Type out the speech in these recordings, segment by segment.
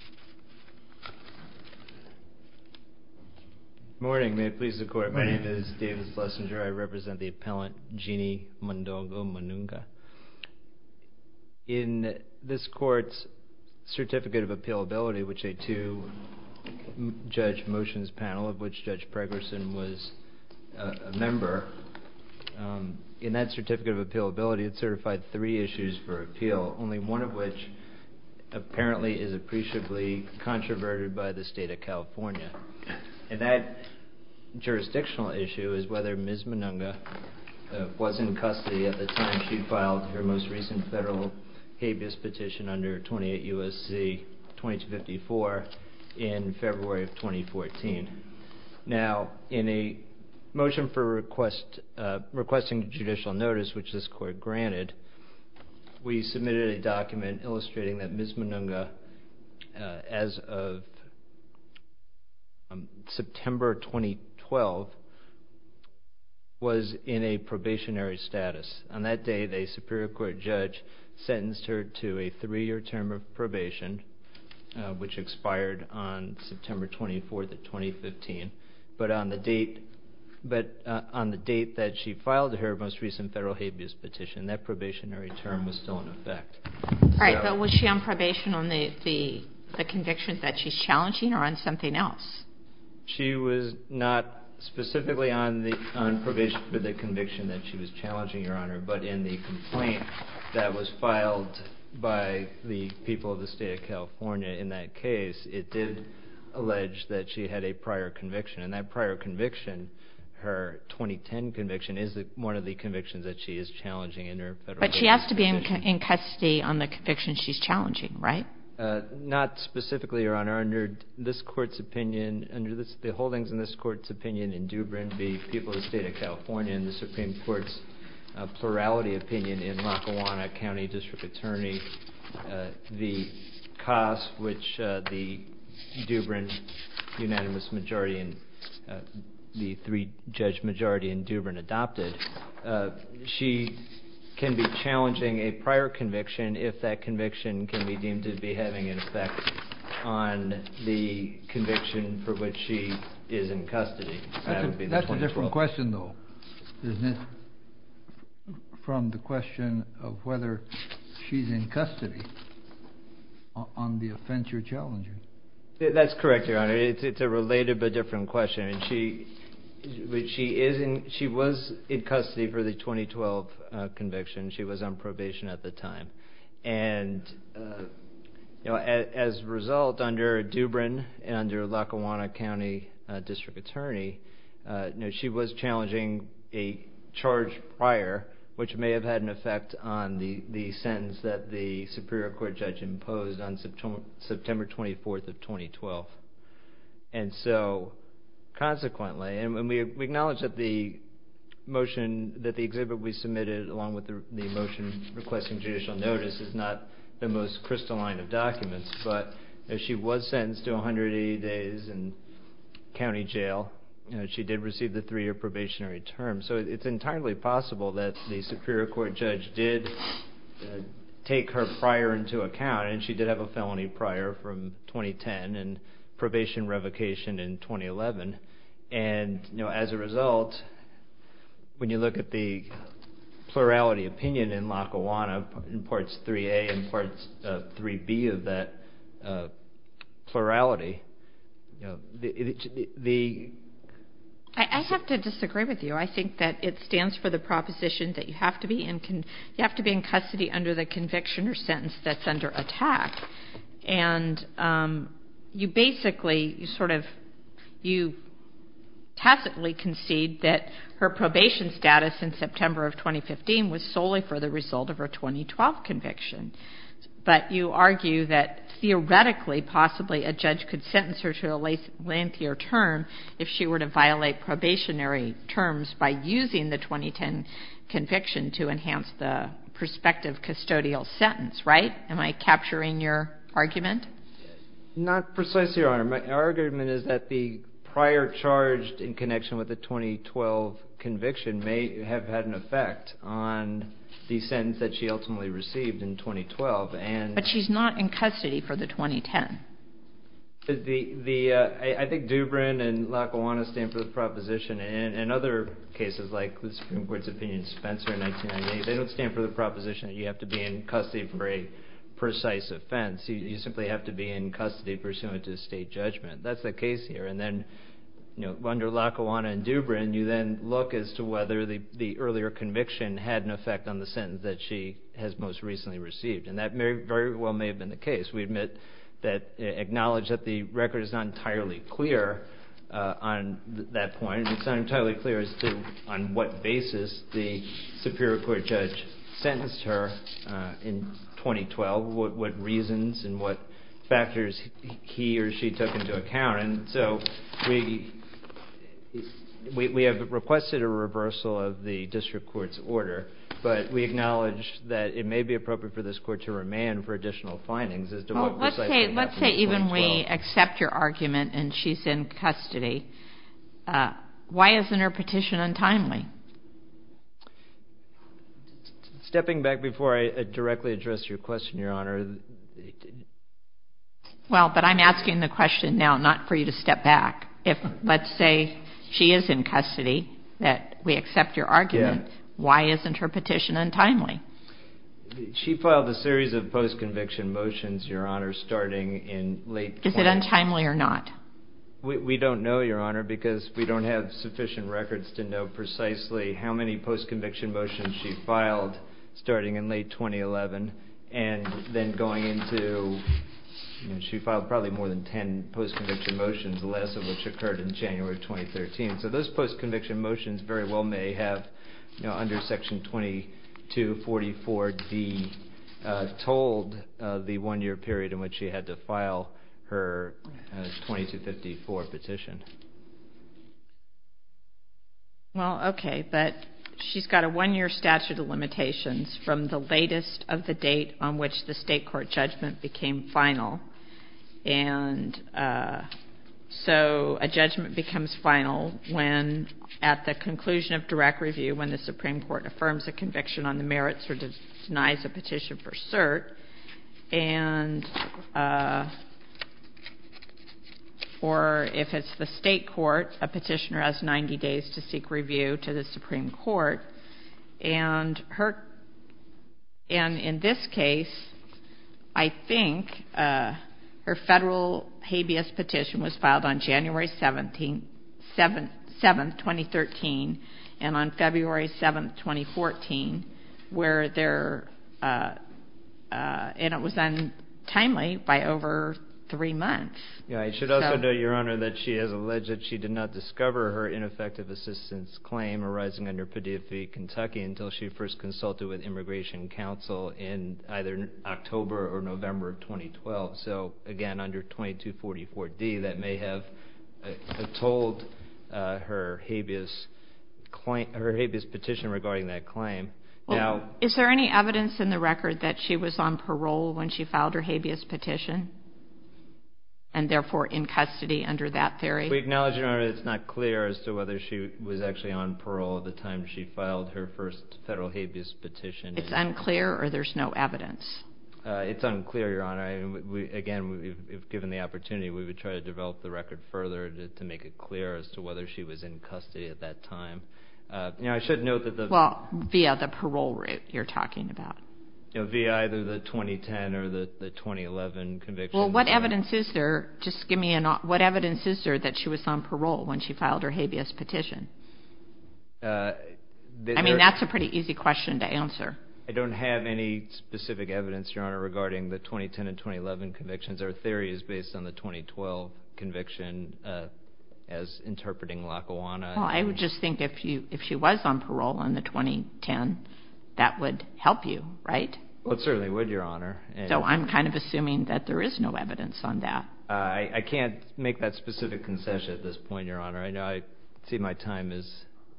Good morning. May it please the Court, my name is Davis Lessinger. I represent the appellant Jeanne Mondogo Manunga. In this Court's Certificate of Appealability, which a two-judge motions panel of which Judge Pregerson was a member, in that Certificate of Appealability it certified three issues for appeal, only one of which apparently is appreciably controverted by the State of California. And that jurisdictional issue is whether Ms. Manunga was in custody at the time she filed her most recent federal habeas petition under 28 U.S.C. 2254 in February of 2014. Now, in a motion for requesting judicial notice, which this Court granted, we submitted a document illustrating that Ms. Manunga, as of September 2012, was in a probationary status. On that day, the Superior Court judge sentenced her to a three-year term of probation, which expired on September 24th of 2015. But on the date that she filed her most recent federal habeas petition, that probationary term was still in effect. Right, but was she on probation on the conviction that she's challenging or on something else? She was not specifically on probation for the conviction that she was challenging, Your Honor, but in the case, it did allege that she had a prior conviction. And that prior conviction, her 2010 conviction, is one of the convictions that she is challenging in her federal habeas petition. But she has to be in custody on the conviction she's challenging, right? Not specifically, Your Honor. Under this Court's opinion, under the holdings in this Court's opinion in Dubrin v. People of the State of California and the Supreme Court's plurality opinion in Lackawanna County District Attorney, the cost which the Dubrin unanimous majority and the three-judge majority in Dubrin adopted, she can be challenging a prior conviction if that conviction can be deemed to be having an effect on the conviction for which she is in custody. That's a different question, though, isn't it? From the question of whether she's in custody on the offense you're challenging. That's correct, Your Honor. It's a related but different question. She was in custody for the 2012 conviction. She was on She was challenging a charge prior, which may have had an effect on the sentence that the Superior Court judge imposed on September 24th of 2012. And so, consequently, and we acknowledge that the motion, that the exhibit we submitted along with the motion requesting judicial notice is not the most crystalline of documents, but if she was sentenced to 180 days in county jail, she did receive the three-year probationary term. So it's entirely possible that the Superior Court judge did take her prior into account, and she did have a felony prior from 2010 and part 3B of that plurality. I have to disagree with you. I think that it stands for the proposition that you have to be in custody under the conviction or sentence that's under attack. And you basically sort of, you tacitly concede that her probation status in September of 2015 was solely for the result of her 2012 conviction. But you argue that theoretically, possibly, a judge could sentence her to a lengthier term if she were to violate probationary terms by using the 2010 conviction to enhance the prospective custodial sentence, right? Am I capturing your argument? Not precisely, Your Honor. My argument is that the prior charge in connection with the 2012 conviction may have had an effect on the sentence that she ultimately received in 2012, and... But she's not in custody for the 2010. I think Dubrin and Lackawanna stand for the proposition, and in other cases like the Supreme Court's opinion in Spencer in 1998, they don't stand for the proposition that you have to be in custody for a precise offense. You simply have to be in custody pursuant to state judgment. That's the case here. And then under Lackawanna and Dubrin, you then look as to whether the earlier conviction had an effect on the sentence that she has most recently received. And that very well may have been the case. We admit that, acknowledge that the record is not entirely clear on that point. It's not entirely clear as to on what basis the Superior Court judge sentenced her in 2012, what reasons and what factors he or she took into account. And so, we have requested a reversal of the district court's order, but we acknowledge that it may be appropriate for this court to remain for additional findings as to what precisely happened in 2012. Why isn't her petition untimely? Stepping back before I directly address your question, Your Honor. Well, but I'm asking the question now, not for you to step back. If, let's say, she is in custody, that we accept your argument, why isn't her petition untimely? She filed a series of post-conviction motions, Your Honor, starting in late 20... Is it untimely or not? We don't know, Your Honor, because we don't have sufficient records to know precisely how many post-conviction motions she filed starting in late 2011, and then going into... She filed probably more than 10 post-conviction motions, the last of which occurred in January 2013. So those post-conviction motions very likely occurred in January 2013, and that's why we're asking you to file her 2254 petition. Well, okay. But she's got a one-year statute of limitations from the latest of the date on which the state court judgment became final. And so, a judgment becomes final when, at the conclusion of direct review, when the Supreme Court affirms a conviction on the merits or denies a petition for cert. And so, if it's the state court, a petitioner has 90 days to seek review to the Supreme Court. And in this case, I think, her federal habeas petition was filed on November 3rd, 2012. So, again, under 2244D, that may have atolled her habeas petition regarding that claim. Well, is there any evidence in the record that she was on parole when she filed her habeas petition, and therefore in custody under that theory? We acknowledge, Your Honor, it's not clear as to whether she was actually on parole at the time she filed her first federal habeas petition. It's unclear, or there's no evidence? It's unclear, Your Honor. Again, if given the opportunity, we would try to develop the record further to make it clear as to whether she was in custody at that time. You know, I should note that the... Well, via the parole route you're talking about. Yeah, via either the 2010 or the 2011 convictions. Well, what evidence is there, just give me an... What evidence is there that she was on parole when she filed her habeas petition? I mean, that's a pretty easy question to answer. I don't have any specific evidence, Your Honor, regarding the 2010 and 2011 convictions. Our theory is based on the 2012 conviction as interpreting Lackawanna. Well, I would just think if she was on parole in the 2010, that would help you, right? Well, it certainly would, Your Honor. So I'm kind of assuming that there is no evidence on that. I can't make that specific concession at this point, Your Honor. I know I see my time is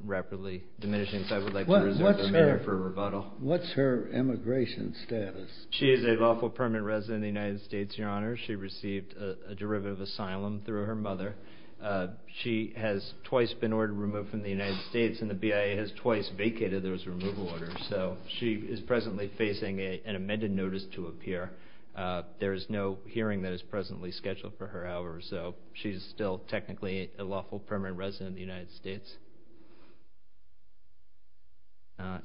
rapidly diminishing, so I would like to reserve a minute for rebuttal. What's her immigration status? She is a lawful permanent resident of the United States, Your Honor. She received a derivative asylum through her mother. She has twice been ordered removed from the United States, and the BIA has twice vacated those removal orders. So she is presently facing an amended notice to appear. There is no hearing that is presently scheduled for her hours, so she is still technically a lawful permanent resident of the United States.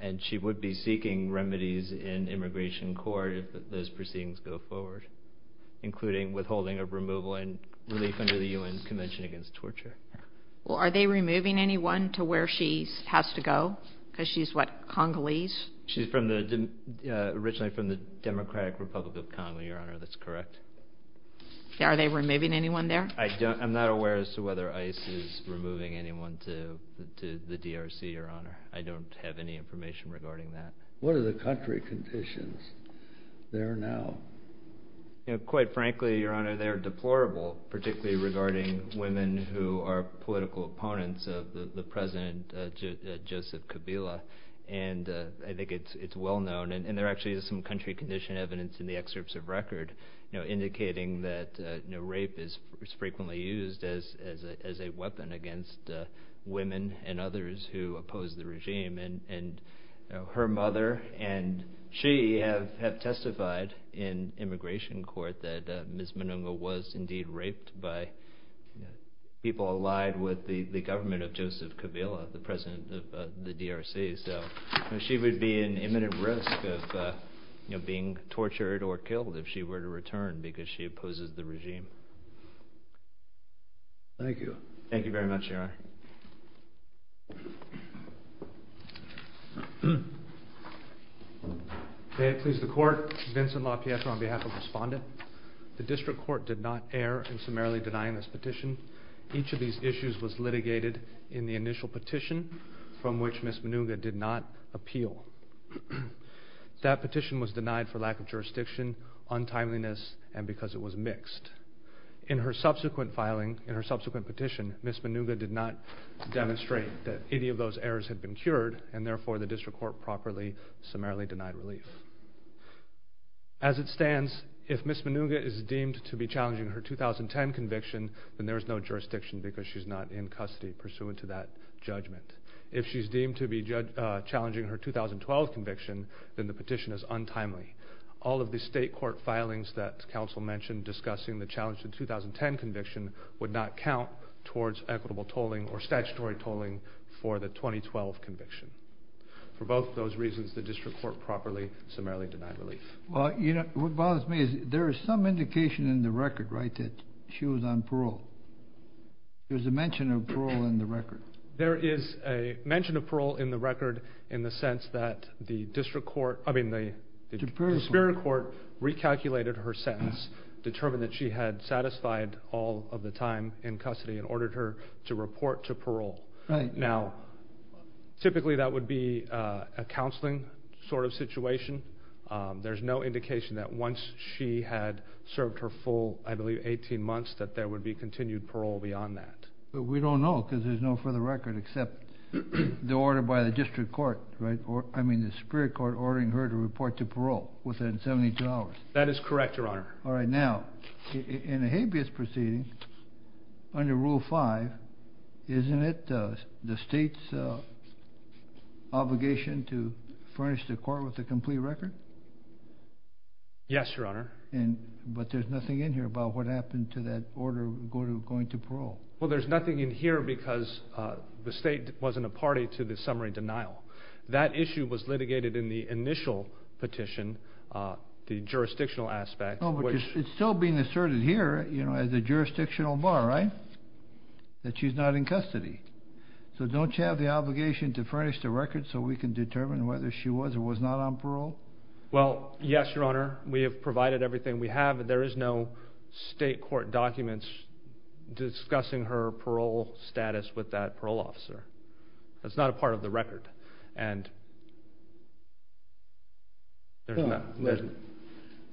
And she would be seeking remedies in immigration court if those proceedings go forward, including withholding of removal and relief under the UN Convention Against Torture. Well, are they removing anyone to where she has to go? Because she is, what, Congolese? She is originally from the Democratic Republic of Congo, Your Honor. That's correct. Are they removing anyone there? I'm not aware as to whether ICE is removing anyone to the DRC, Your Honor. I don't have any information regarding that. What are the country conditions there now? Quite frankly, Your Honor, they are deplorable, particularly regarding women who are political opponents of the President Joseph Kabila. And I think it's well known, and there actually is some country condition evidence in the excerpts of record indicating that rape is frequently used as a weapon against women and others who oppose the regime. And her mother and she have testified in immigration court that Ms. Manunga was indeed raped by people allied with the government of Joseph Kabila, the President of the DRC. So she would be in imminent risk of being tortured or killed if she were to return because she opposes the regime. Thank you. May it please the Court, Vincent LaPietra on behalf of the Respondent. The District Court did not err in summarily denying this petition. Each of these issues was litigated in the initial petition from which Ms. Manunga did not appeal. That petition was denied for lack of jurisdiction, untimeliness, and because it was mixed. In her subsequent filing, in her subsequent petition, Ms. Manunga did not demonstrate that any of those errors had been cured, and therefore the District Court properly summarily denied relief. As it stands, if Ms. Manunga is deemed to be challenging her 2010 conviction, then there is no jurisdiction because she's not in custody pursuant to that judgment. If she's deemed to be challenging her 2012 conviction, then the petition is untimely. All of the State Court filings that counsel mentioned discussing the challenge to the 2010 conviction would not count towards equitable tolling or statutory tolling for the 2012 conviction. For both of those reasons, the District Court properly summarily denied relief. Well, you know, what bothers me is there is some indication in the record, right, that she was on parole. There's a mention of parole in the record. There is a mention of parole in the record in the sense that the District Court, I mean the... The Superior Court recalculated her sentence, determined that she had satisfied all of the time in custody, and ordered her to report to parole. Now, typically that would be a counseling sort of situation. There's no indication that once she had served her full, I believe, 18 months, that there would be continued parole beyond that. But we don't know because there's no further record except the order by the District Court, right? That is correct, Your Honor. All right, now, in a habeas proceeding, under Rule 5, isn't it the State's obligation to furnish the court with a complete record? Yes, Your Honor. But there's nothing in here about what happened to that order going to parole. Well, there's nothing in here because the State wasn't a party to the summary denial. That issue was litigated in the initial petition, the jurisdictional aspect. No, but it's still being asserted here, you know, as a jurisdictional bar, right? That she's not in custody. So don't you have the obligation to furnish the record so we can determine whether she was or was not on parole? Well, yes, Your Honor. We have provided everything we have. There is no State court documents discussing her parole status with that parole officer. That's not a part of the record. And there's not... Listen,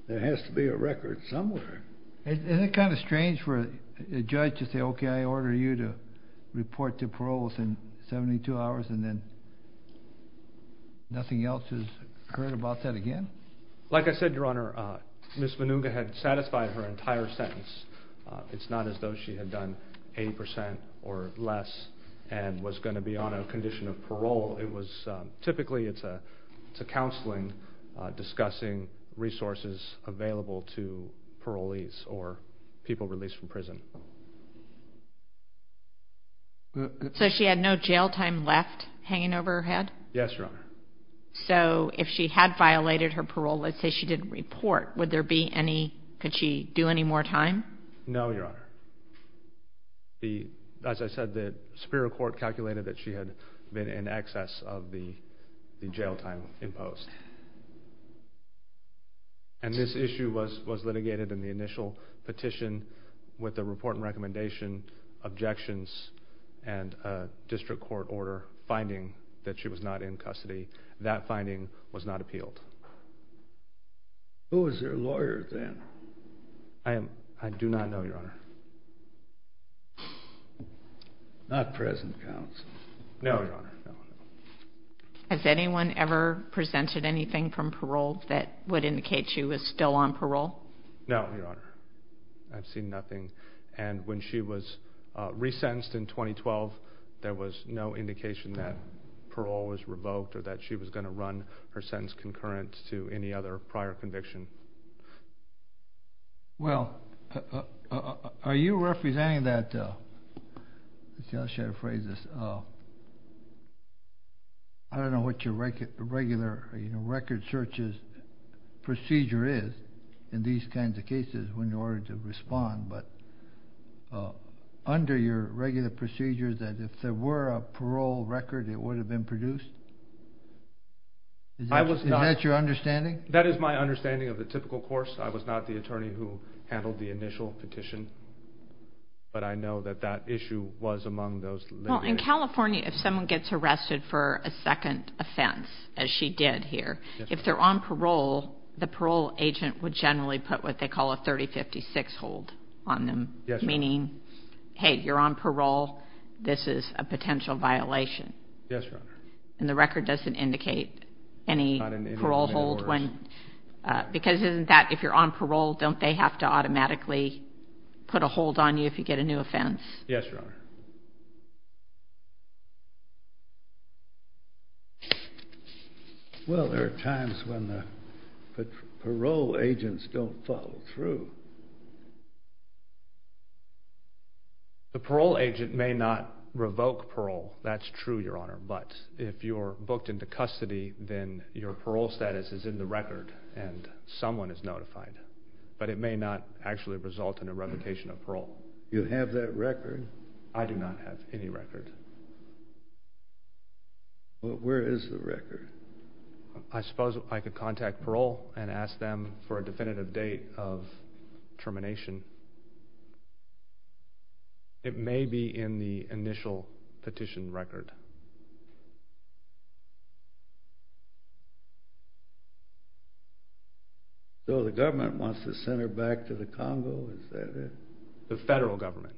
there has to be a record somewhere. Isn't it kind of strange for a judge to say, okay, I order you to report to parole within 72 hours and then nothing else is heard about that again? Like I said, Your Honor, Ms. Manunga had satisfied her entire sentence. It's not as though she had done 80% or less and was going to be on a condition of parole. It was typically, it's a counseling discussing resources available to parolees or people released from prison. So she had no jail time left hanging over her head? Yes, Your Honor. So if she had violated her parole, let's say she didn't report, would there be any... No, Your Honor. As I said, the Superior Court calculated that she had been in excess of the jail time imposed. And this issue was litigated in the initial petition with a report and recommendation, objections, and a district court order finding that she was not in custody. That finding was not appealed. Who was your lawyer then? I do not know, Your Honor. Not present counsel. No, Your Honor. Has anyone ever presented anything from parole that would indicate she was still on parole? No, Your Honor. I've seen nothing. And when she was resentenced in 2012, there was no indication that parole was revoked or that she was going to run her sentence concurrent to any other prior conviction. Well, are you representing that... I should have phrased this. I don't know what your regular record searches procedure is in these kinds of cases when you're ordered to respond, but under your regular procedures that if there were a parole record, it would have been produced? Is that your understanding? That is my understanding of the typical course. I was not the attorney who handled the initial petition, but I know that that issue was among those litigated. Well, in California, if someone gets arrested for a second offense, as she did here, if they're on parole, the parole agent would generally put what they call a 3056 hold on them, meaning, hey, you're on parole. This is a potential violation. Yes, Your Honor. And the record doesn't indicate any parole hold when... When you're on parole, don't they have to automatically put a hold on you if you get a new offense? Yes, Your Honor. Well, there are times when the parole agents don't follow through. The parole agent may not revoke parole. That's true, Your Honor. But if you're booked into custody, then your parole status is in the record, and someone is notified. But it may not actually result in a revocation of parole. You have that record? I do not have any record. Well, where is the record? I suppose I could contact parole and ask them for a definitive date of termination. It may be in the initial petition record. So, the government wants to send her back to the Congo, is that it? The federal government.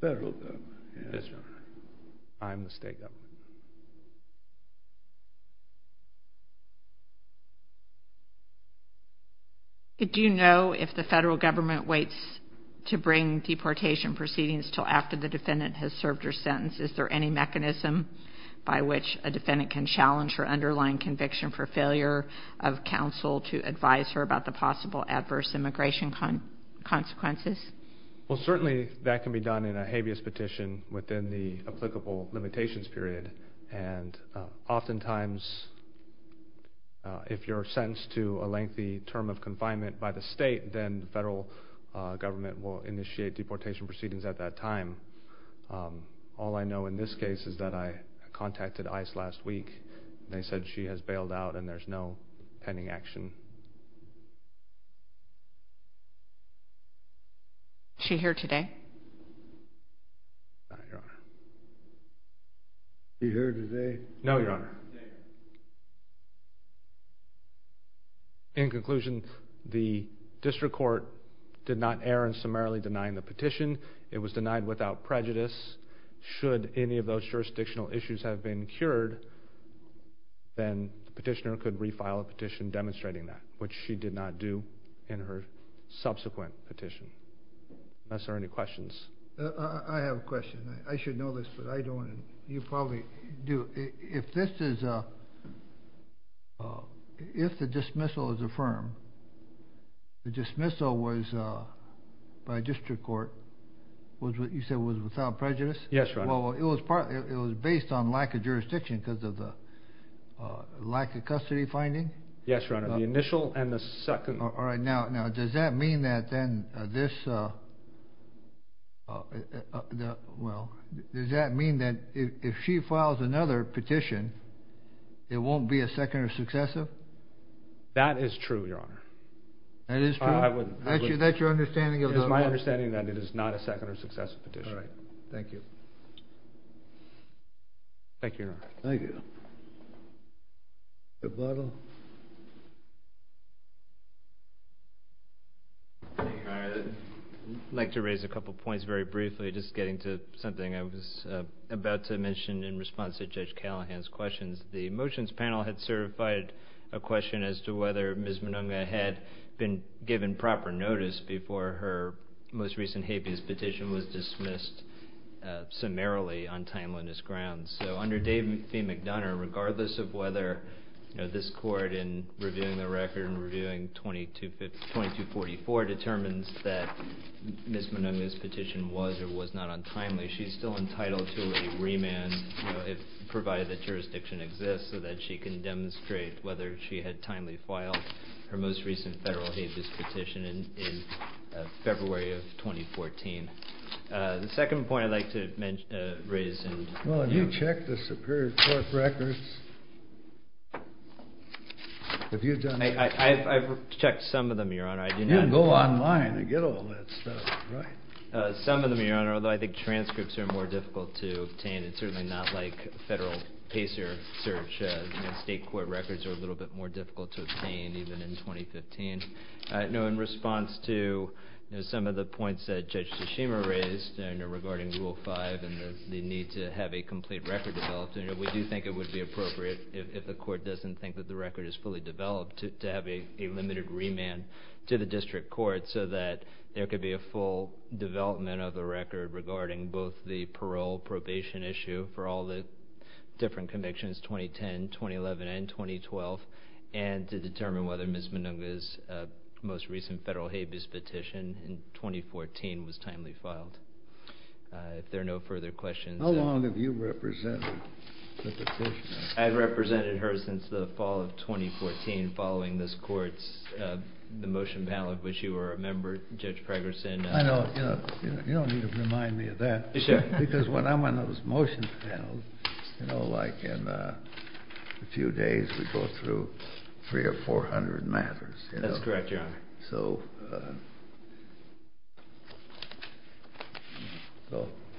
Federal government, yes. Yes, Your Honor. I'm the state government. Do you know if the federal government waits to bring deportation proceedings until after the defendant has served her sentence? Is there any mechanism by which a defendant can challenge her underlying conviction for failure of counsel to advise her about the possible adverse immigration consequences? Well, certainly that can be done in a habeas petition within the applicable limitations period. And oftentimes, if you're sentenced to a lengthy term of confinement by the state, then the federal government will initiate deportation proceedings at that time. All I know in this case is that I contacted ICE last week. They said she has bailed out and there's no pending action. Is she here today? No, Your Honor. Is she here today? No, Your Honor. In conclusion, the district court did not err in summarily denying the petition. It was denied without prejudice. Should any of those jurisdictional issues have been cured, then the petitioner could refile a petition demonstrating that, which she did not do in her subsequent petition. Unless there are any questions. I have a question. I should know this, but I don't. You probably do. If the dismissal is affirmed, the dismissal by district court was without prejudice? Yes, Your Honor. It was based on lack of jurisdiction because of the lack of custody finding? Yes, Your Honor. The initial and the second. All right. Now, does that mean that if she files another petition, it won't be a second or successive? That is true, Your Honor. That is true? That's your understanding? It is my understanding that it is not a second or successive petition. All right. Thank you. Thank you, Your Honor. Thank you. Mr. Butler? I'd like to raise a couple of points very briefly, just getting to something I was about to mention in response to Judge Callahan's questions. The motions panel had certified a question as to whether Ms. Monunga had been given proper notice before her most recent habeas petition was dismissed summarily on timeliness grounds. So under Dave B. McDonough, regardless of whether this court in reviewing the record and reviewing 2244 determines that Ms. Monunga's petition was or was not on timeliness, she's still entitled to a remand provided that jurisdiction exists so that she can demonstrate whether she had timely filed her most recent federal habeas petition in February of 2014. The second point I'd like to raise is… Well, have you checked the Superior Court records? Have you done that? I've checked some of them, Your Honor. You can go online and get all that stuff, right? Some of them, Your Honor, although I think transcripts are more difficult to obtain. It's certainly not like federal PACER search. State court records are a little bit more difficult to obtain, even in 2015. In response to some of the points that Judge Tsushima raised regarding Rule 5 and the need to have a complete record developed, we do think it would be appropriate, if the court doesn't think that the record is fully developed, to have a limited remand to the district court so that there could be a full development of the record regarding both the parole probation issue for all the different convictions, 2010, 2011, and 2012, and to determine whether Ms. Monunga's most recent federal habeas petition in 2014 was timely filed. If there are no further questions… How long have you represented the petitioner? I've represented her since the fall of 2014, following this court's motion panel, of which you were a member, Judge Pregerson. I know. You don't need to remind me of that. Sure. Because when I'm on those motion panels, you know, like in a few days we go through 300 or 400 matters. That's correct, Your Honor. So…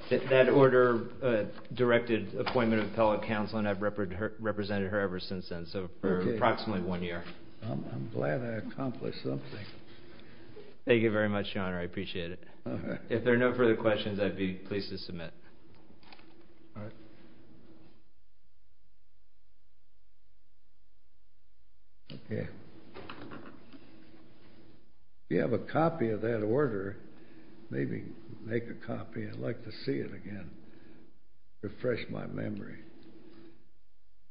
That order directed appointment of appellate counsel, and I've represented her ever since then, so for approximately one year. I'm glad I accomplished something. Thank you very much, Your Honor. I appreciate it. If there are no further questions, I'd be pleased to submit. All right. Okay. If you have a copy of that order, maybe make a copy. I'd like to see it again, refresh my memory.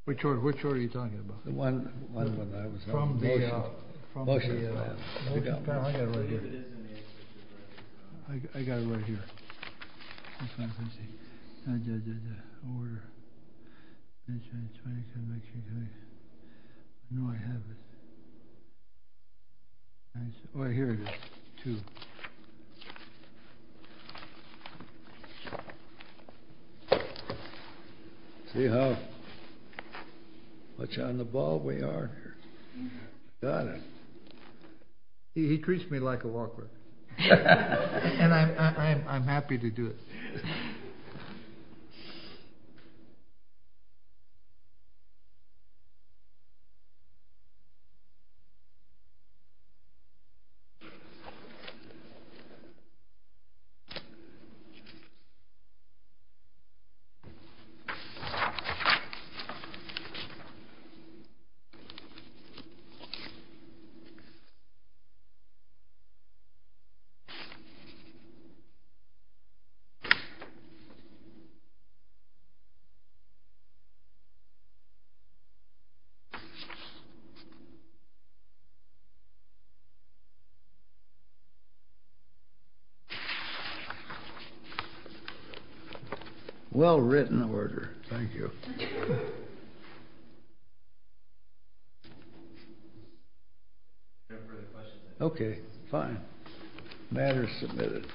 Which order are you talking about? The one when I was on the motion panel. The motion panel? I've got it right here. I've got it right here. Oh, here it is. Two. See how much on the ball we are here? Your Honor. He treats me like a walker, and I'm happy to do it. Thank you. Well written order. Thank you. If there are no further questions… Okay, fine. Matter is submitted.